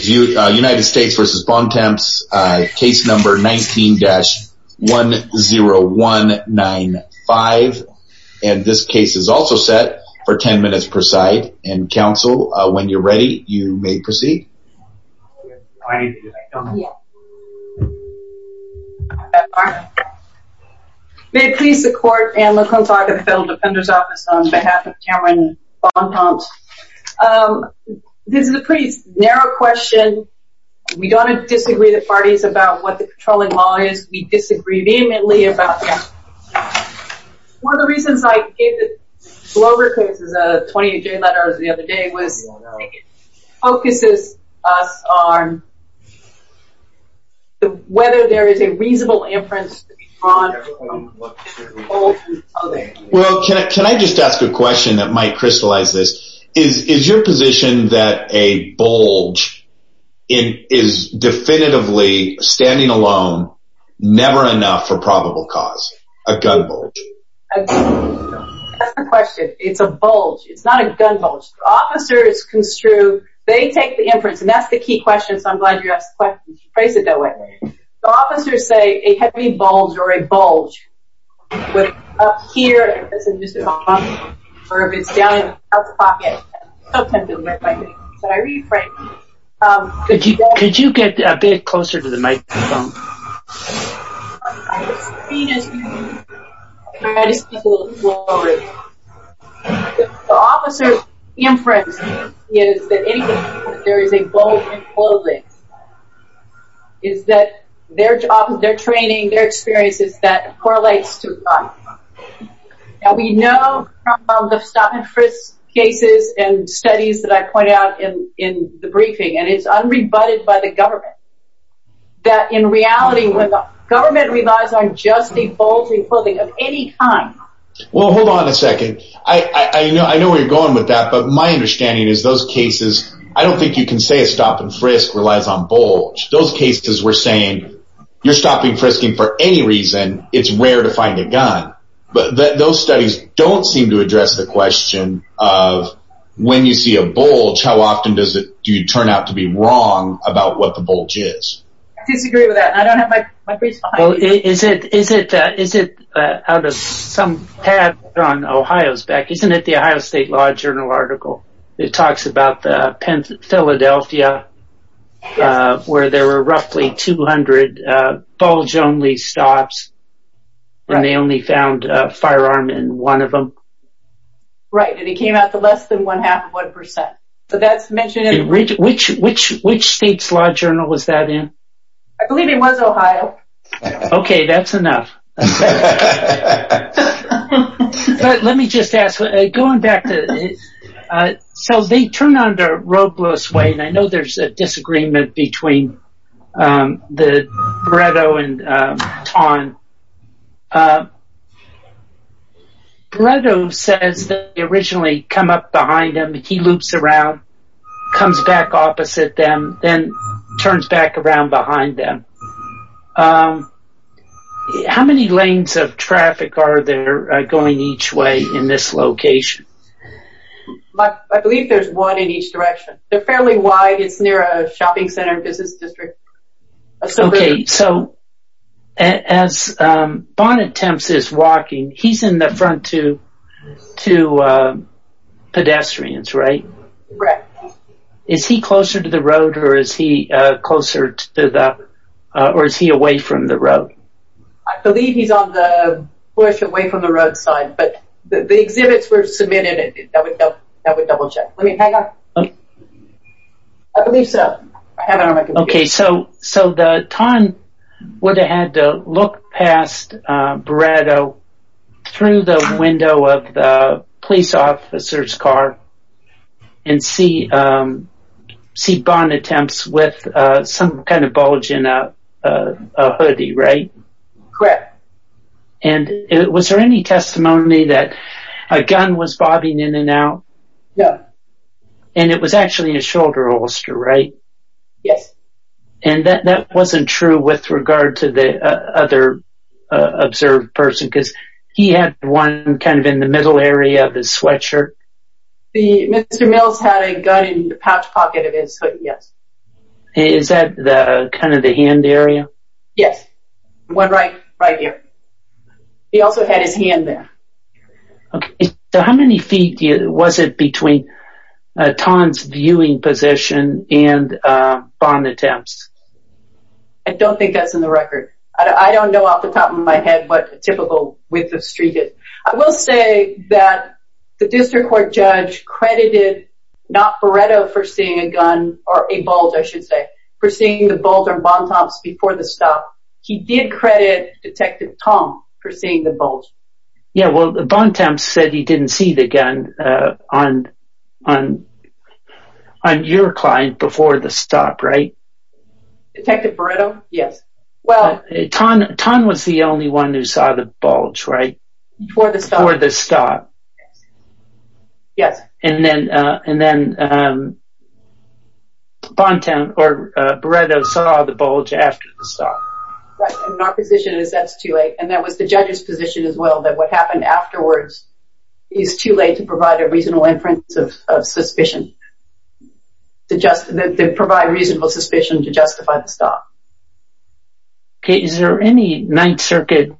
United States v. Bontemps, case number 19-10195, and this case is also set for 10 minutes per side, and counsel, when you're ready, you may proceed. May it please the court and Laquan Clark of the Federal Defender's Office on behalf of Tamaran Bontemps. This is a pretty narrow question. We don't disagree with the parties about what the patrolling law is. We disagree vehemently about that. One of the reasons I gave the Glover case as a 28-J letter the other day was it focuses us on whether there is a reasonable inference to be drawn. Well, can I just ask a question that might crystallize this? Is your position that a bulge is definitively, standing alone, never enough for probable cause? A gun bulge? That's the question. It's a bulge. It's not a gun bulge. Officers construe, they take the inference, and that's the key question, so I'm glad you asked the question, to phrase it that way. Officers say a heavy bulge or a bulge, whether it's up here, or if it's down in the pocket. Could you get a bit closer to the microphone? The officers' inference is that there is a bulge in clothing. It's that their training, their experience, is that it correlates to a gun. We know from the stop-and-frisk cases and studies that I pointed out in the briefing, and it's unrebutted by the government, that in reality, when the government relies on just a bulge in clothing of any kind... Those studies don't seem to address the question of, when you see a bulge, how often do you turn out to be wrong about what the bulge is? I disagree with that, and I don't have my briefs behind me. Is it out of some tab on Ohio's back, isn't it the Ohio State Law Journal article? It talks about Philadelphia, where there were roughly 200 bulge-only stops, and they only found a firearm in one of them. Right, and it came out to less than one-half of one percent. Which state's law journal was that in? I believe it was Ohio. Okay, that's enough. But let me just ask, going back to... So, they turn onto Robles Way, and I know there's a disagreement between Beretto and Taun. Beretto says that they originally come up behind him, he loops around, comes back opposite them, then turns back around behind them. How many lanes of traffic are there going each way in this location? I believe there's one in each direction. They're fairly wide, it's near a shopping center and business district. Okay, so as Bonnet-Temps is walking, he's in the front two pedestrians, right? Right. Is he closer to the road, or is he away from the road? I believe he's on the bush away from the roadside, but the exhibits were submitted, and that would double-check. I believe so. Okay, so Taun would have had to look past Beretto through the window of the police officer's car and see Bonnet-Temps with some kind of bulge in a hoodie, right? Correct. And was there any testimony that a gun was bobbing in and out? No. And it was actually a shoulder holster, right? Yes. And that wasn't true with regard to the other observed person, because he had one kind of in the middle area of his sweatshirt? Mr. Mills had a gun in the pouch pocket of his hoodie, yes. Is that kind of the hand area? Yes, one right here. He also had his hand there. Okay, so how many feet was it between Taun's viewing position and Bonnet-Temps? I don't think that's in the record. I don't know off the top of my head what a typical width of street is. I will say that the district court judge credited not Beretto for seeing a gun, or a bulge I should say, for seeing the bulge on Bonnet-Temps before the stop. He did credit Detective Taun for seeing the bulge. Yeah, well Bonnet-Temps said he didn't see the gun on your client before the stop, right? Detective Beretto? Yes. Taun was the only one who saw the bulge, right? Before the stop. Before the stop. Yes. And then Beretto saw the bulge after the stop. Our position is that's too late, and that was the judge's position as well, that what happened afterwards is too late to provide a reasonable inference of suspicion. To provide reasonable suspicion to justify the stop. Okay, is there any Ninth Circuit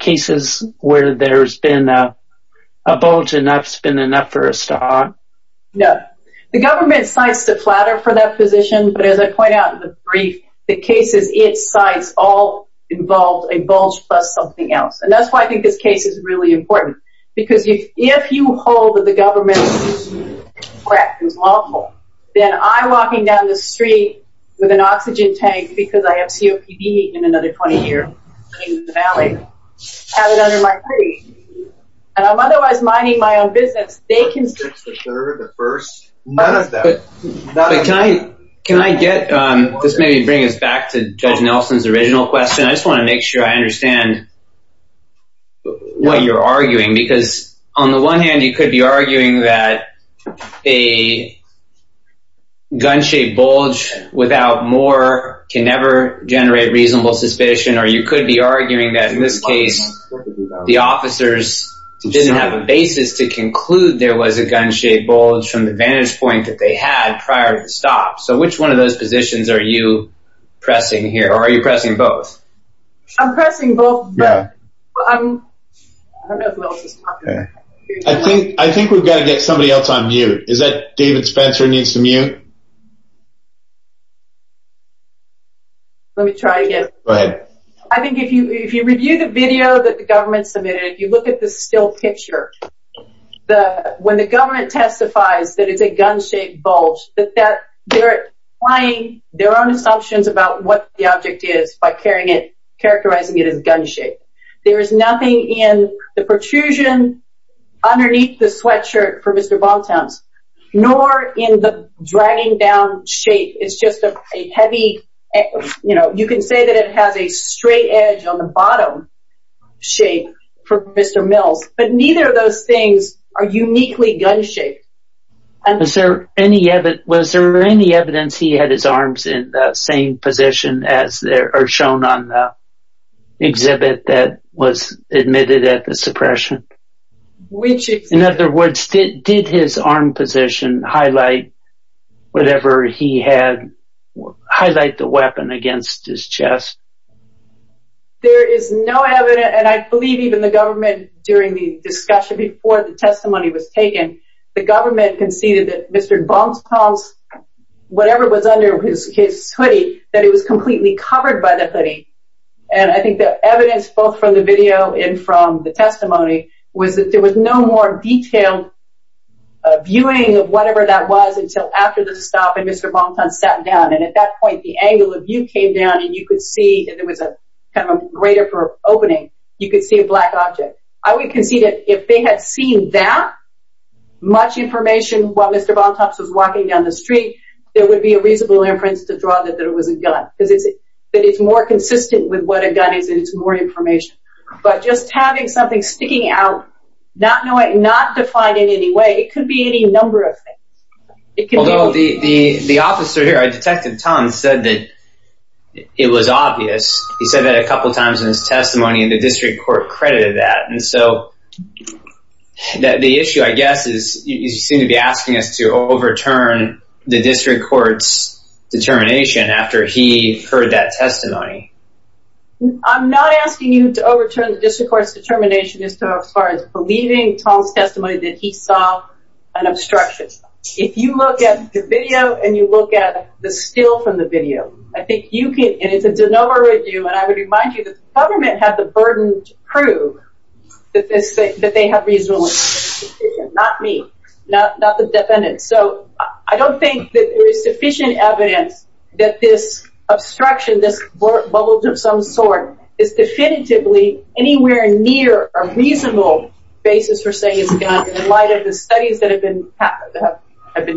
cases where there's been a bulge enough, it's been enough for a stop? No. The government cites the flatter for that position, but as I point out in the brief, the cases it cites all involved a bulge plus something else. And that's why I think this case is really important. Because if you hold that the government is correct, is lawful, then I'm walking down the street with an oxygen tank because I have COPD in another 20 years in the valley. I have it under my feet. And I'm otherwise minding my own business. They constrict the third, the first, none of them. But can I get, this may bring us back to Judge Nelson's original question. I just want to make sure I understand what you're arguing. Because on the one hand, you could be arguing that a gun-shaped bulge without more can never generate reasonable suspicion. Or you could be arguing that in this case, the officers didn't have a basis to conclude there was a gun-shaped bulge from the vantage point that they had prior to the stop. So which one of those positions are you pressing here? Or are you pressing both? I'm pressing both. I think we've got to get somebody else on mute. Is that David Spencer needs to mute? Let me try again. Go ahead. I think if you review the video that the government submitted, you look at the still picture. When the government testifies that it's a gun-shaped bulge, they're applying their own assumptions about what the object is by carrying it, characterizing it as gun-shaped. There is nothing in the protrusion underneath the sweatshirt for Mr. Bontowns, nor in the dragging down shape. It's just a heavy, you know, you can say that it has a straight edge on the bottom shape for Mr. Mills. But neither of those things are uniquely gun-shaped. Was there any evidence he had his arms in the same position as shown on the exhibit that was admitted at the suppression? In other words, did his arm position highlight whatever he had, highlight the weapon against his chest? There is no evidence, and I believe even the government, during the discussion before the testimony was taken, the government conceded that Mr. Bontowns, whatever was under his hoodie, that it was completely covered by the hoodie. And I think the evidence, both from the video and from the testimony, was that there was no more detailed viewing of whatever that was until after the stop and Mr. Bontowns sat down. And at that point, the angle of view came down and you could see, and there was a kind of a greater opening, you could see a black object. I would concede that if they had seen that much information while Mr. Bontowns was walking down the street, there would be a reasonable inference to draw that it was a gun. Because it's more consistent with what a gun is and it's more information. But just having something sticking out, not defined in any way, it could be any number of things. Although the officer here, Detective Tong, said that it was obvious. He said that a couple times in his testimony and the district court credited that. And so the issue, I guess, is you seem to be asking us to overturn the district court's determination after he heard that testimony. I'm not asking you to overturn the district court's determination as far as believing Tong's testimony that he saw an obstruction. If you look at the video and you look at the still from the video, I think you can, and it's a de novo review, and I would remind you that the government had the burden to prove that they have reasonable evidence. Not me. Not the defendant. So I don't think that there is sufficient evidence that this obstruction, this bulge of some sort, is definitively anywhere near a reasonable basis for saying it's a gun in light of the studies that have been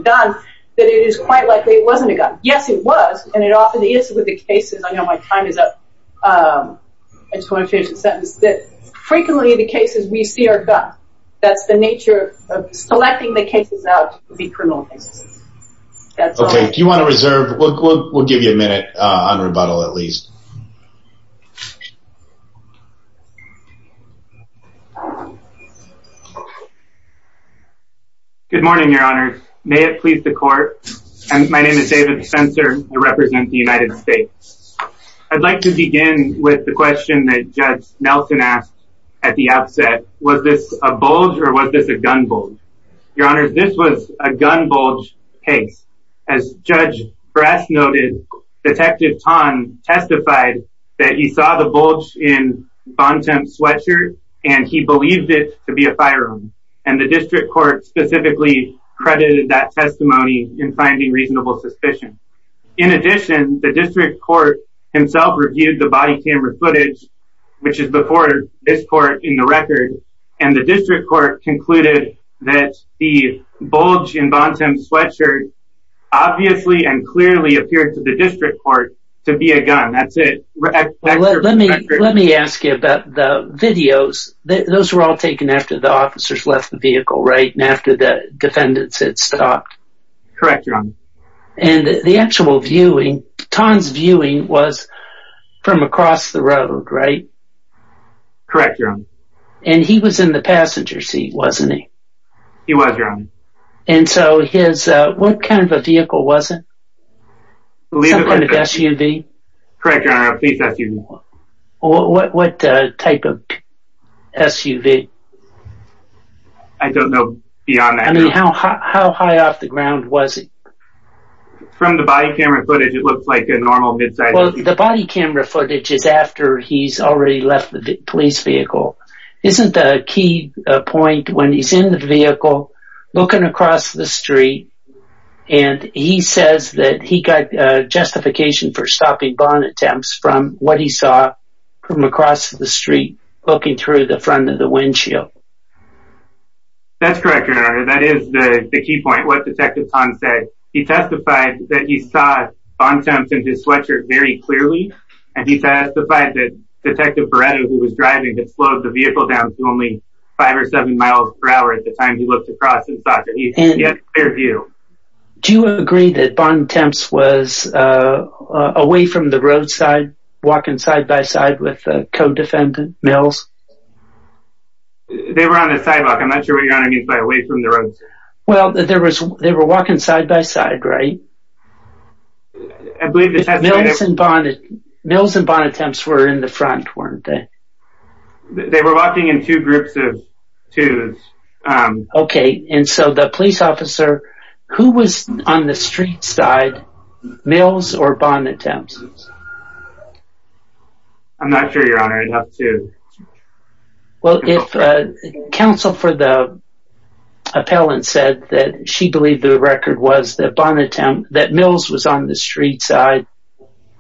done, that it is quite likely it wasn't a gun. Yes, it was, and it often is with the cases. I know my time is up. I just want to finish the sentence. Frequently the cases we see are guns. That's the nature of selecting the cases out to be criminal cases. Okay. Do you want to reserve? We'll give you a minute on rebuttal at least. Good morning, Your Honor. May it please the court. My name is David Spencer. I represent the United States. I'd like to begin with the question that Judge Nelson asked at the outset. Was this a bulge or was this a gun bulge? Your Honor, this was a gun bulge case. As Judge Brass noted, Detective Tan testified that he saw the bulge in Von Temp's sweatshirt, and he believed it to be a firearm, and the district court specifically credited that testimony in finding reasonable suspicion. In addition, the district court himself reviewed the body camera footage, which is before this court in the record, and the district court concluded that the bulge in Von Temp's sweatshirt obviously and clearly appeared to the district court to be a gun. That's it. Let me ask you about the videos. Those were all taken after the officers left the vehicle, right, and after the defendants had stopped. Correct, Your Honor. And the actual viewing, Tan's viewing was from across the road, right? Correct, Your Honor. And he was in the passenger seat, wasn't he? He was, Your Honor. And so his, what kind of a vehicle was it? Leave it like that. Some kind of SUV? Correct, Your Honor. Please ask even more. What type of SUV? I don't know beyond that. I mean, how high off the ground was he? From the body camera footage, it looked like a normal midsize SUV. Well, the body camera footage is after he's already left the police vehicle. Isn't the key point when he's in the vehicle, looking across the street, and he says that he got justification for stopping Von Temp's from what he saw from across the street looking through the front of the windshield? That's correct, Your Honor. That is the key point, what Detective Tan said. He testified that he saw Von Temp's in his sweatshirt very clearly, and he testified that Detective Beretta, who was driving, had slowed the vehicle down to only 5 or 7 miles per hour at the time he looked across and saw it. He had a clear view. Do you agree that Von Temp's was away from the roadside, walking side by side with the co-defendant Mills? They were on the sidewalk. I'm not sure what Your Honor means by away from the roadside. Well, they were walking side by side, right? I believe the testifier… Mills and Von Temp's were in the front, weren't they? They were walking in two groups of twos. Okay, and so the police officer, who was on the street side? Mills or Von Temp's? I'm not sure, Your Honor. Well, if counsel for the appellant said that she believed the record was that Mills was on the street side,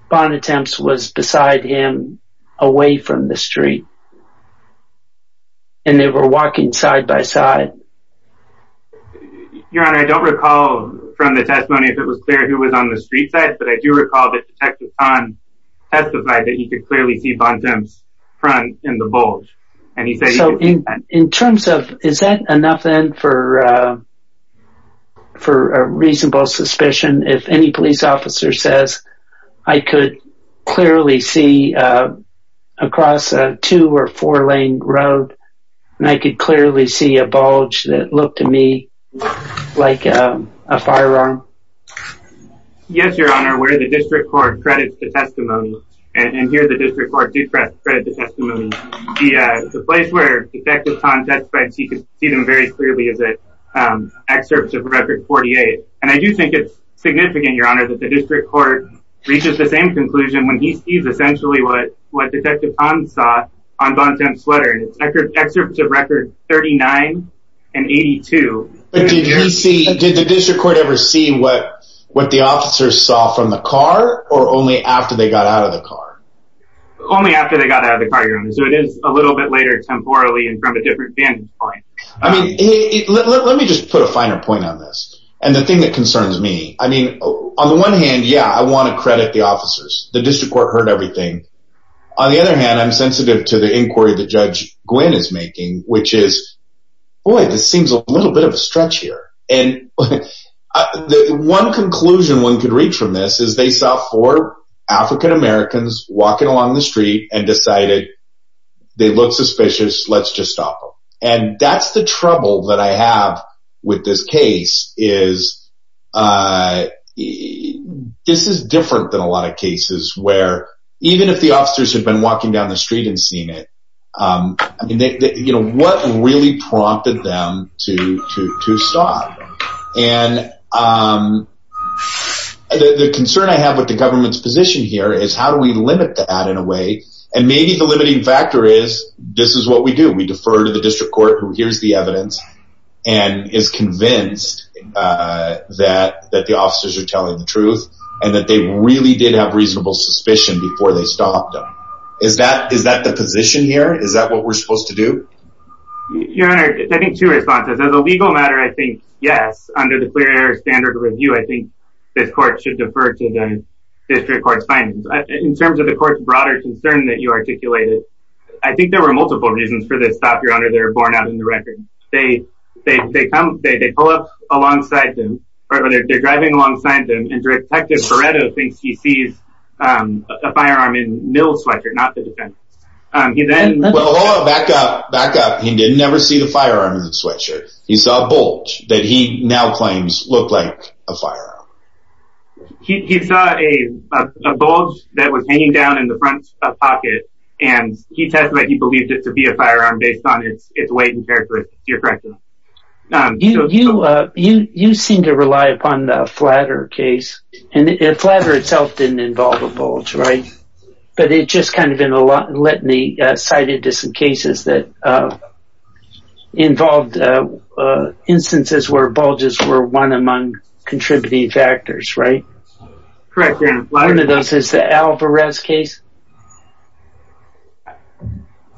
Von Temp's was beside him, away from the street, and they were walking side by side. Your Honor, I don't recall from the testimony if it was clear who was on the street side, but I do recall that Detective Kahn testified that he could clearly see Von Temp's front in the bulge. So, in terms of, is that enough then for a reasonable suspicion? If any police officer says, I could clearly see across a two or four lane road, and I could clearly see a bulge that looked to me like a firearm. Yes, Your Honor, where the district court credits the testimony, and here the district court did credit the testimony, the place where Detective Kahn testified, he could see them very clearly, is at excerpts of Record 48. And I do think it's significant, Your Honor, that the district court reaches the same conclusion when he sees essentially what Detective Kahn saw on Von Temp's sweater. And it's excerpts of Record 39 and 82. But did he see, did the district court ever see what the officers saw from the car, or only after they got out of the car? Only after they got out of the car, Your Honor. So it is a little bit later temporally and from a different vantage point. I mean, let me just put a finer point on this. And the thing that concerns me, I mean, on the one hand, yeah, I want to credit the officers. The district court heard everything. On the other hand, I'm sensitive to the inquiry that Judge Gwinn is making, which is, boy, this seems a little bit of a stretch here. And one conclusion one could reach from this is they saw four African-Americans walking along the street and decided they look suspicious. Let's just stop them. And that's the trouble that I have with this case is this is different than a lot of cases where even if the officers had been walking down the street and seen it, I mean, you know, what really prompted them to stop? And the concern I have with the government's position here is how do we limit that in a way? And maybe the limiting factor is this is what we do. We defer to the district court who hears the evidence and is convinced that the officers are telling the truth and that they really did have reasonable suspicion before they stopped them. Is that the position here? Is that what we're supposed to do? Your Honor, I think two responses. As a legal matter, I think, yes, under the Clear Air Standard Review, I think this court should defer to the district court's findings. In terms of the court's broader concern that you articulated, I think there were multiple reasons for this stop, Your Honor, that are borne out in the record. They pull up alongside them, or they're driving alongside them, and Detective Beretto thinks he sees a firearm in Mill's sweatshirt, not the defendant's. Hold on, back up, back up. He didn't ever see the firearm in the sweatshirt. He saw a bulge that he now claims looked like a firearm. He saw a bulge that was hanging down in the front pocket, and he testified he believed it to be a firearm based on its weight and characteristics. You're correct, Your Honor. You seem to rely upon the Flatter case, and Flatter itself didn't involve a bulge, right? But it just kind of in a litany cited to some cases that involved instances where bulges were one among contributing factors, right? Correct, Your Honor. One of those is the Alvarez case?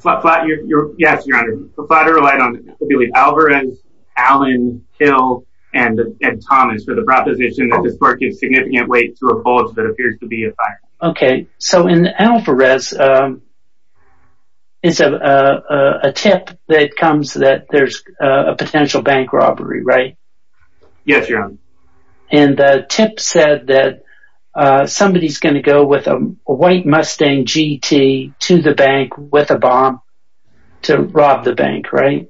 Yes, Your Honor. Flatter relied on Alvarez, Allen, Hill, and Thomas for the proposition that this clerk is significant weight to a bulge that appears to be a firearm. Okay, so in Alvarez, it's a tip that comes that there's a potential bank robbery, right? Yes, Your Honor. And the tip said that somebody's going to go with a white Mustang GT to the bank with a bomb to rob the bank, right?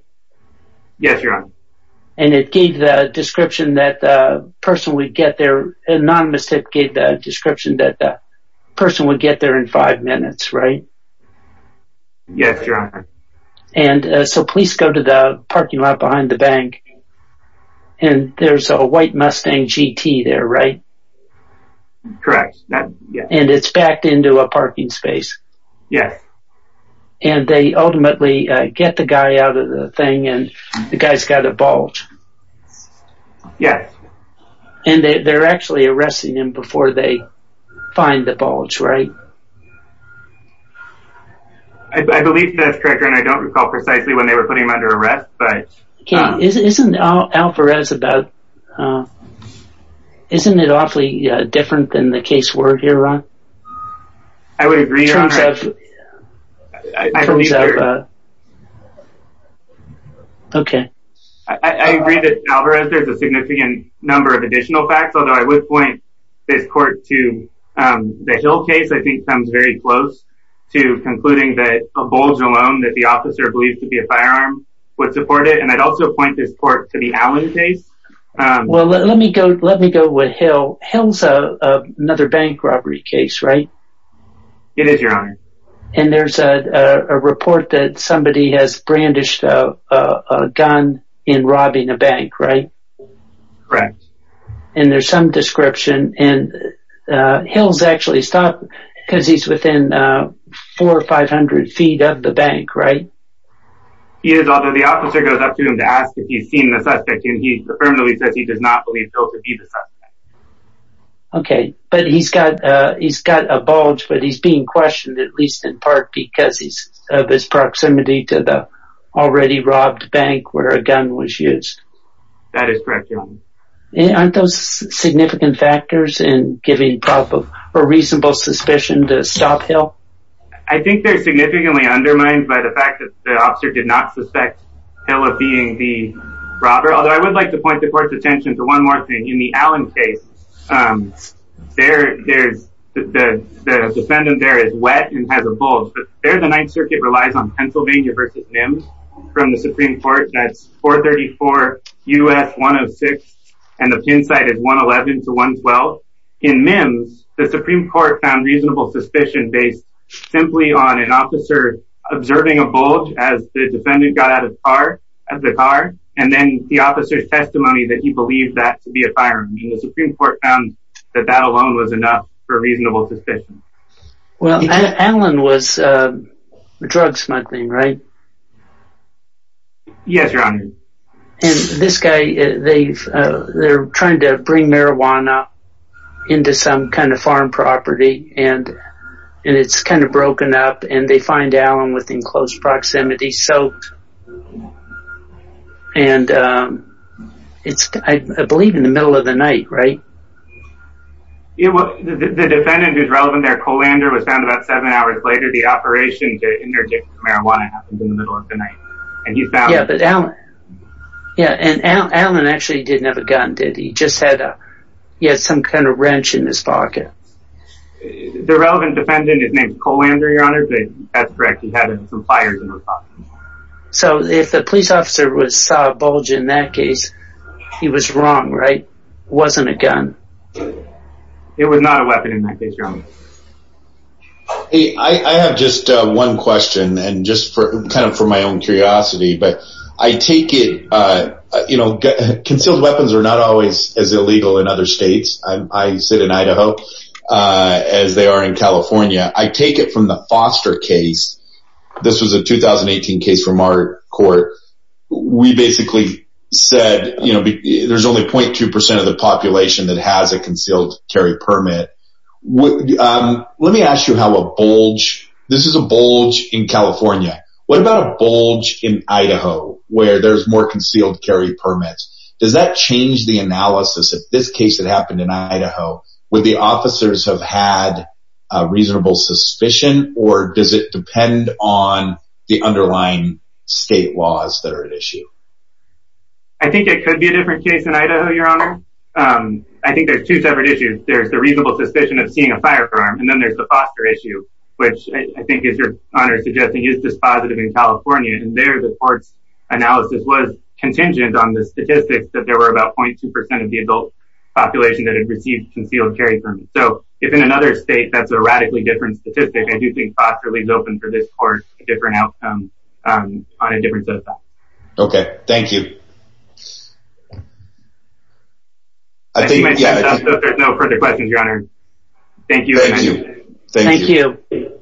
Yes, Your Honor. And it gave the description that the person would get there. Anonymous tip gave the description that the person would get there in five minutes, right? Yes, Your Honor. And so police go to the parking lot behind the bank, and there's a white Mustang GT there, right? Correct. And it's backed into a parking space? Yes. And they ultimately get the guy out of the thing, and the guy's got a bulge? Yes. And they're actually arresting him before they find the bulge, right? I believe that's correct, Your Honor. I don't recall precisely when they were putting him under arrest. Okay. Isn't Alvarez about—isn't it awfully different than the case word here, Ron? I would agree, Your Honor. In terms of— I believe you're— Okay. I agree that in Alvarez, there's a significant number of additional facts, although I would point this court to the Hill case. This, I think, comes very close to concluding that a bulge alone that the officer believed to be a firearm would support it. And I'd also point this court to the Allen case. Well, let me go with Hill. Hill's another bank robbery case, right? It is, Your Honor. And there's a report that somebody has brandished a gun in robbing a bank, right? Correct. And there's some description, and Hill's actually stopped because he's within 400 or 500 feet of the bank, right? He is, although the officer goes up to him to ask if he's seen the suspect, and he affirmatively says he does not believe Hill to be the suspect. Okay. But he's got a bulge, but he's being questioned, at least in part, because of his proximity to the already-robbed bank where a gun was used. That is correct, Your Honor. And aren't those significant factors in giving proof of a reasonable suspicion to stop Hill? I think they're significantly undermined by the fact that the officer did not suspect Hill of being the robber, although I would like to point the court's attention to one more thing. In the Allen case, the defendant there is wet and has a bulge. There, the Ninth Circuit relies on Pennsylvania v. Mims from the Supreme Court. That's 434 U.S. 106, and the pin site is 111 to 112. In Mims, the Supreme Court found reasonable suspicion based simply on an officer observing a bulge as the defendant got out of the car, and then the officer's testimony that he believed that to be a firearm. The Supreme Court found that that alone was enough for reasonable suspicion. Well, Allen was drug-smuggling, right? Yes, Your Honor. And this guy, they're trying to bring marijuana into some kind of farm property, and it's kind of broken up, and they find Allen within close proximity, soaked. And it's, I believe, in the middle of the night, right? Yeah, well, the defendant who's relevant there, Colander, was found about seven hours later. The operation to interdict marijuana happened in the middle of the night, and he's found… Yeah, but Allen, yeah, and Allen actually didn't have a gun, did he? He just had a, he had some kind of wrench in his pocket. The relevant defendant is named Colander, Your Honor, but that's correct. He had some pliers in his pocket. So if the police officer saw a bulge in that case, he was wrong, right? It wasn't a gun. It was not a weapon in that case, Your Honor. Hey, I have just one question, and just kind of for my own curiosity, but I take it, you know, concealed weapons are not always as illegal in other states. I sit in Idaho, as they are in California. I take it from the Foster case. This was a 2018 case from our court. We basically said, you know, there's only 0.2% of the population that has a concealed carry permit. Let me ask you how a bulge, this is a bulge in California. What about a bulge in Idaho where there's more concealed carry permits? Does that change the analysis? If this case had happened in Idaho, would the officers have had a reasonable suspicion, or does it depend on the underlying state laws that are at issue? I think it could be a different case in Idaho, Your Honor. I think there's two separate issues. There's the reasonable suspicion of seeing a firearm, and then there's the Foster issue, which I think is Your Honor suggesting is dispositive in California, and there the court's analysis was contingent on the statistics that there were about 0.2% of the adult population that had received concealed carry permits. So, if in another state that's a radically different statistic, I do think Foster leaves open for this court a different outcome on a different set of facts. Okay. Thank you. I think that's enough. There's no further questions, Your Honor. Thank you. Thank you. Thank you.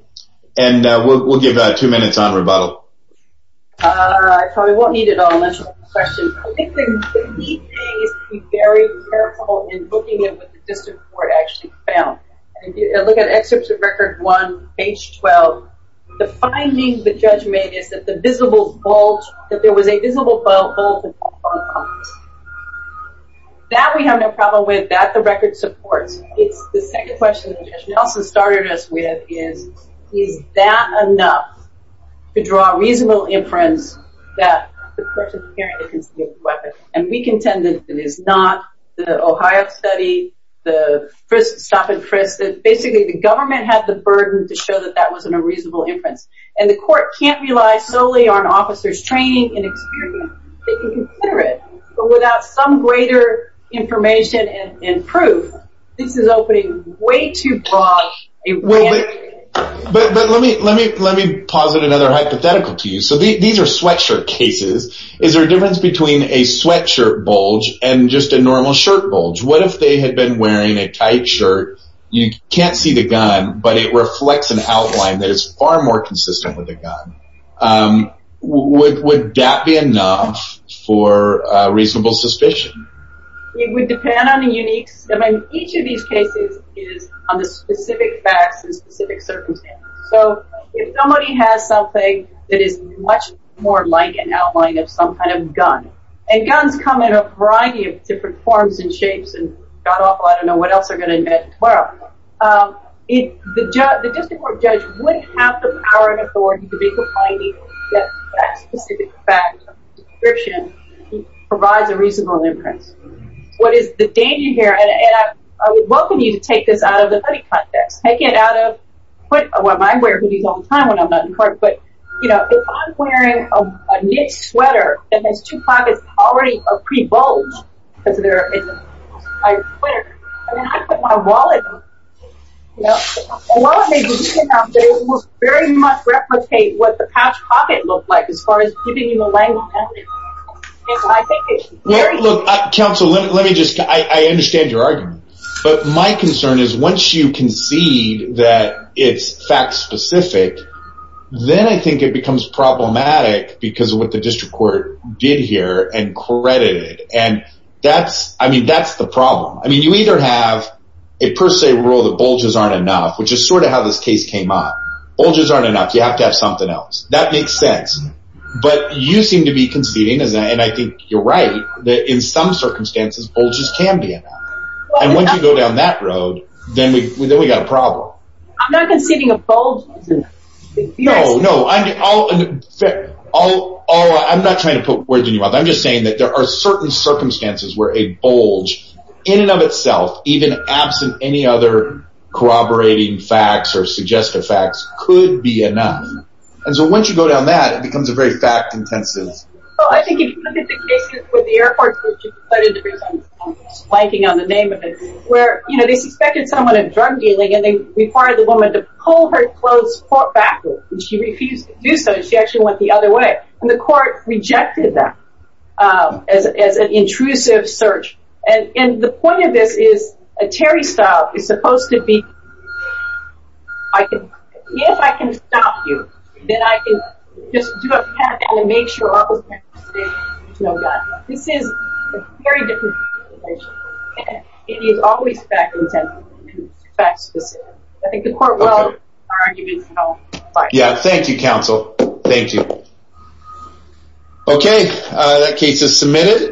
And we'll give two minutes on rebuttal. I probably won't need it all. I think the key thing is to be very careful in looking at what the district court actually found. Look at Excerpt of Record 1, page 12. The finding the judge made is that the visible bulge, that there was a visible bulge in the firearm. That we have no problem with. That the record supports. The second question that Judge Nelson started us with is, is that enough to draw a reasonable inference that the person carrying the concealed carry weapon, and we contend that it is not. The Ohio study, the stop and frisk, that basically the government had the burden to show that that wasn't a reasonable inference. And the court can't rely solely on officers' training and experience. They can consider it. But without some greater information and proof, this is opening way too broad a range. But let me posit another hypothetical to you. So these are sweatshirt cases. Is there a difference between a sweatshirt bulge and just a normal shirt bulge? What if they had been wearing a tight shirt, you can't see the gun, but it reflects an outline that is far more consistent with the gun. Would that be enough for reasonable suspicion? It would depend on the uniqueness. I mean, each of these cases is on the specific facts and specific circumstances. So if somebody has something that is much more like an outline of some kind of gun, and guns come in a variety of different forms and shapes, and God awful, I don't know what else they're going to invent tomorrow. The district court judge would have the power and authority to make a finding that that specific fact or description provides a reasonable inference. What is the danger here? And I would welcome you to take this out of the money context. Take it out of, well, I wear hoodies all the time when I'm not in court, but if I'm wearing a knit sweater and there's two pockets already pre-bulged, because there is a tight sweater, and I put my wallet in, a wallet may be taken out, but it will very much replicate what the patch pocket looked like as far as giving you the language. Look, counsel, let me just, I understand your argument, but my concern is once you concede that it's fact specific, then I think it becomes problematic because of what the district court did here and credited it, and that's, I mean, that's the problem. I mean, you either have a per se rule that bulges aren't enough, which is sort of how this case came up. Bulges aren't enough. You have to have something else. That makes sense. But you seem to be conceding, and I think you're right, that in some circumstances bulges can be enough. And once you go down that road, then we've got a problem. I'm not conceding a bulge. No, no. I'm not trying to put words in your mouth. I'm just saying that there are certain circumstances where a bulge, in and of itself, even absent any other corroborating facts or suggestive facts, could be enough. And so once you go down that, it becomes a very fact intensive. Well, I think if you look at the cases with the airports, which you cited the reason I'm blanking on the name of it, where, you know, they suspected someone of drug dealing and they required the woman to pull her clothes backward, and she refused to do so, and she actually went the other way, and the court rejected that as an intrusive search. And the point of this is a Terry style is supposed to be, if I can stop you, then I can just do a pat down and make sure all the facts are stated. This is a very different situation. It is always fact intensive, facts specific. I think the court will argue its own. Yeah. Thank you, counsel. Thank you. Okay. That case is submitted.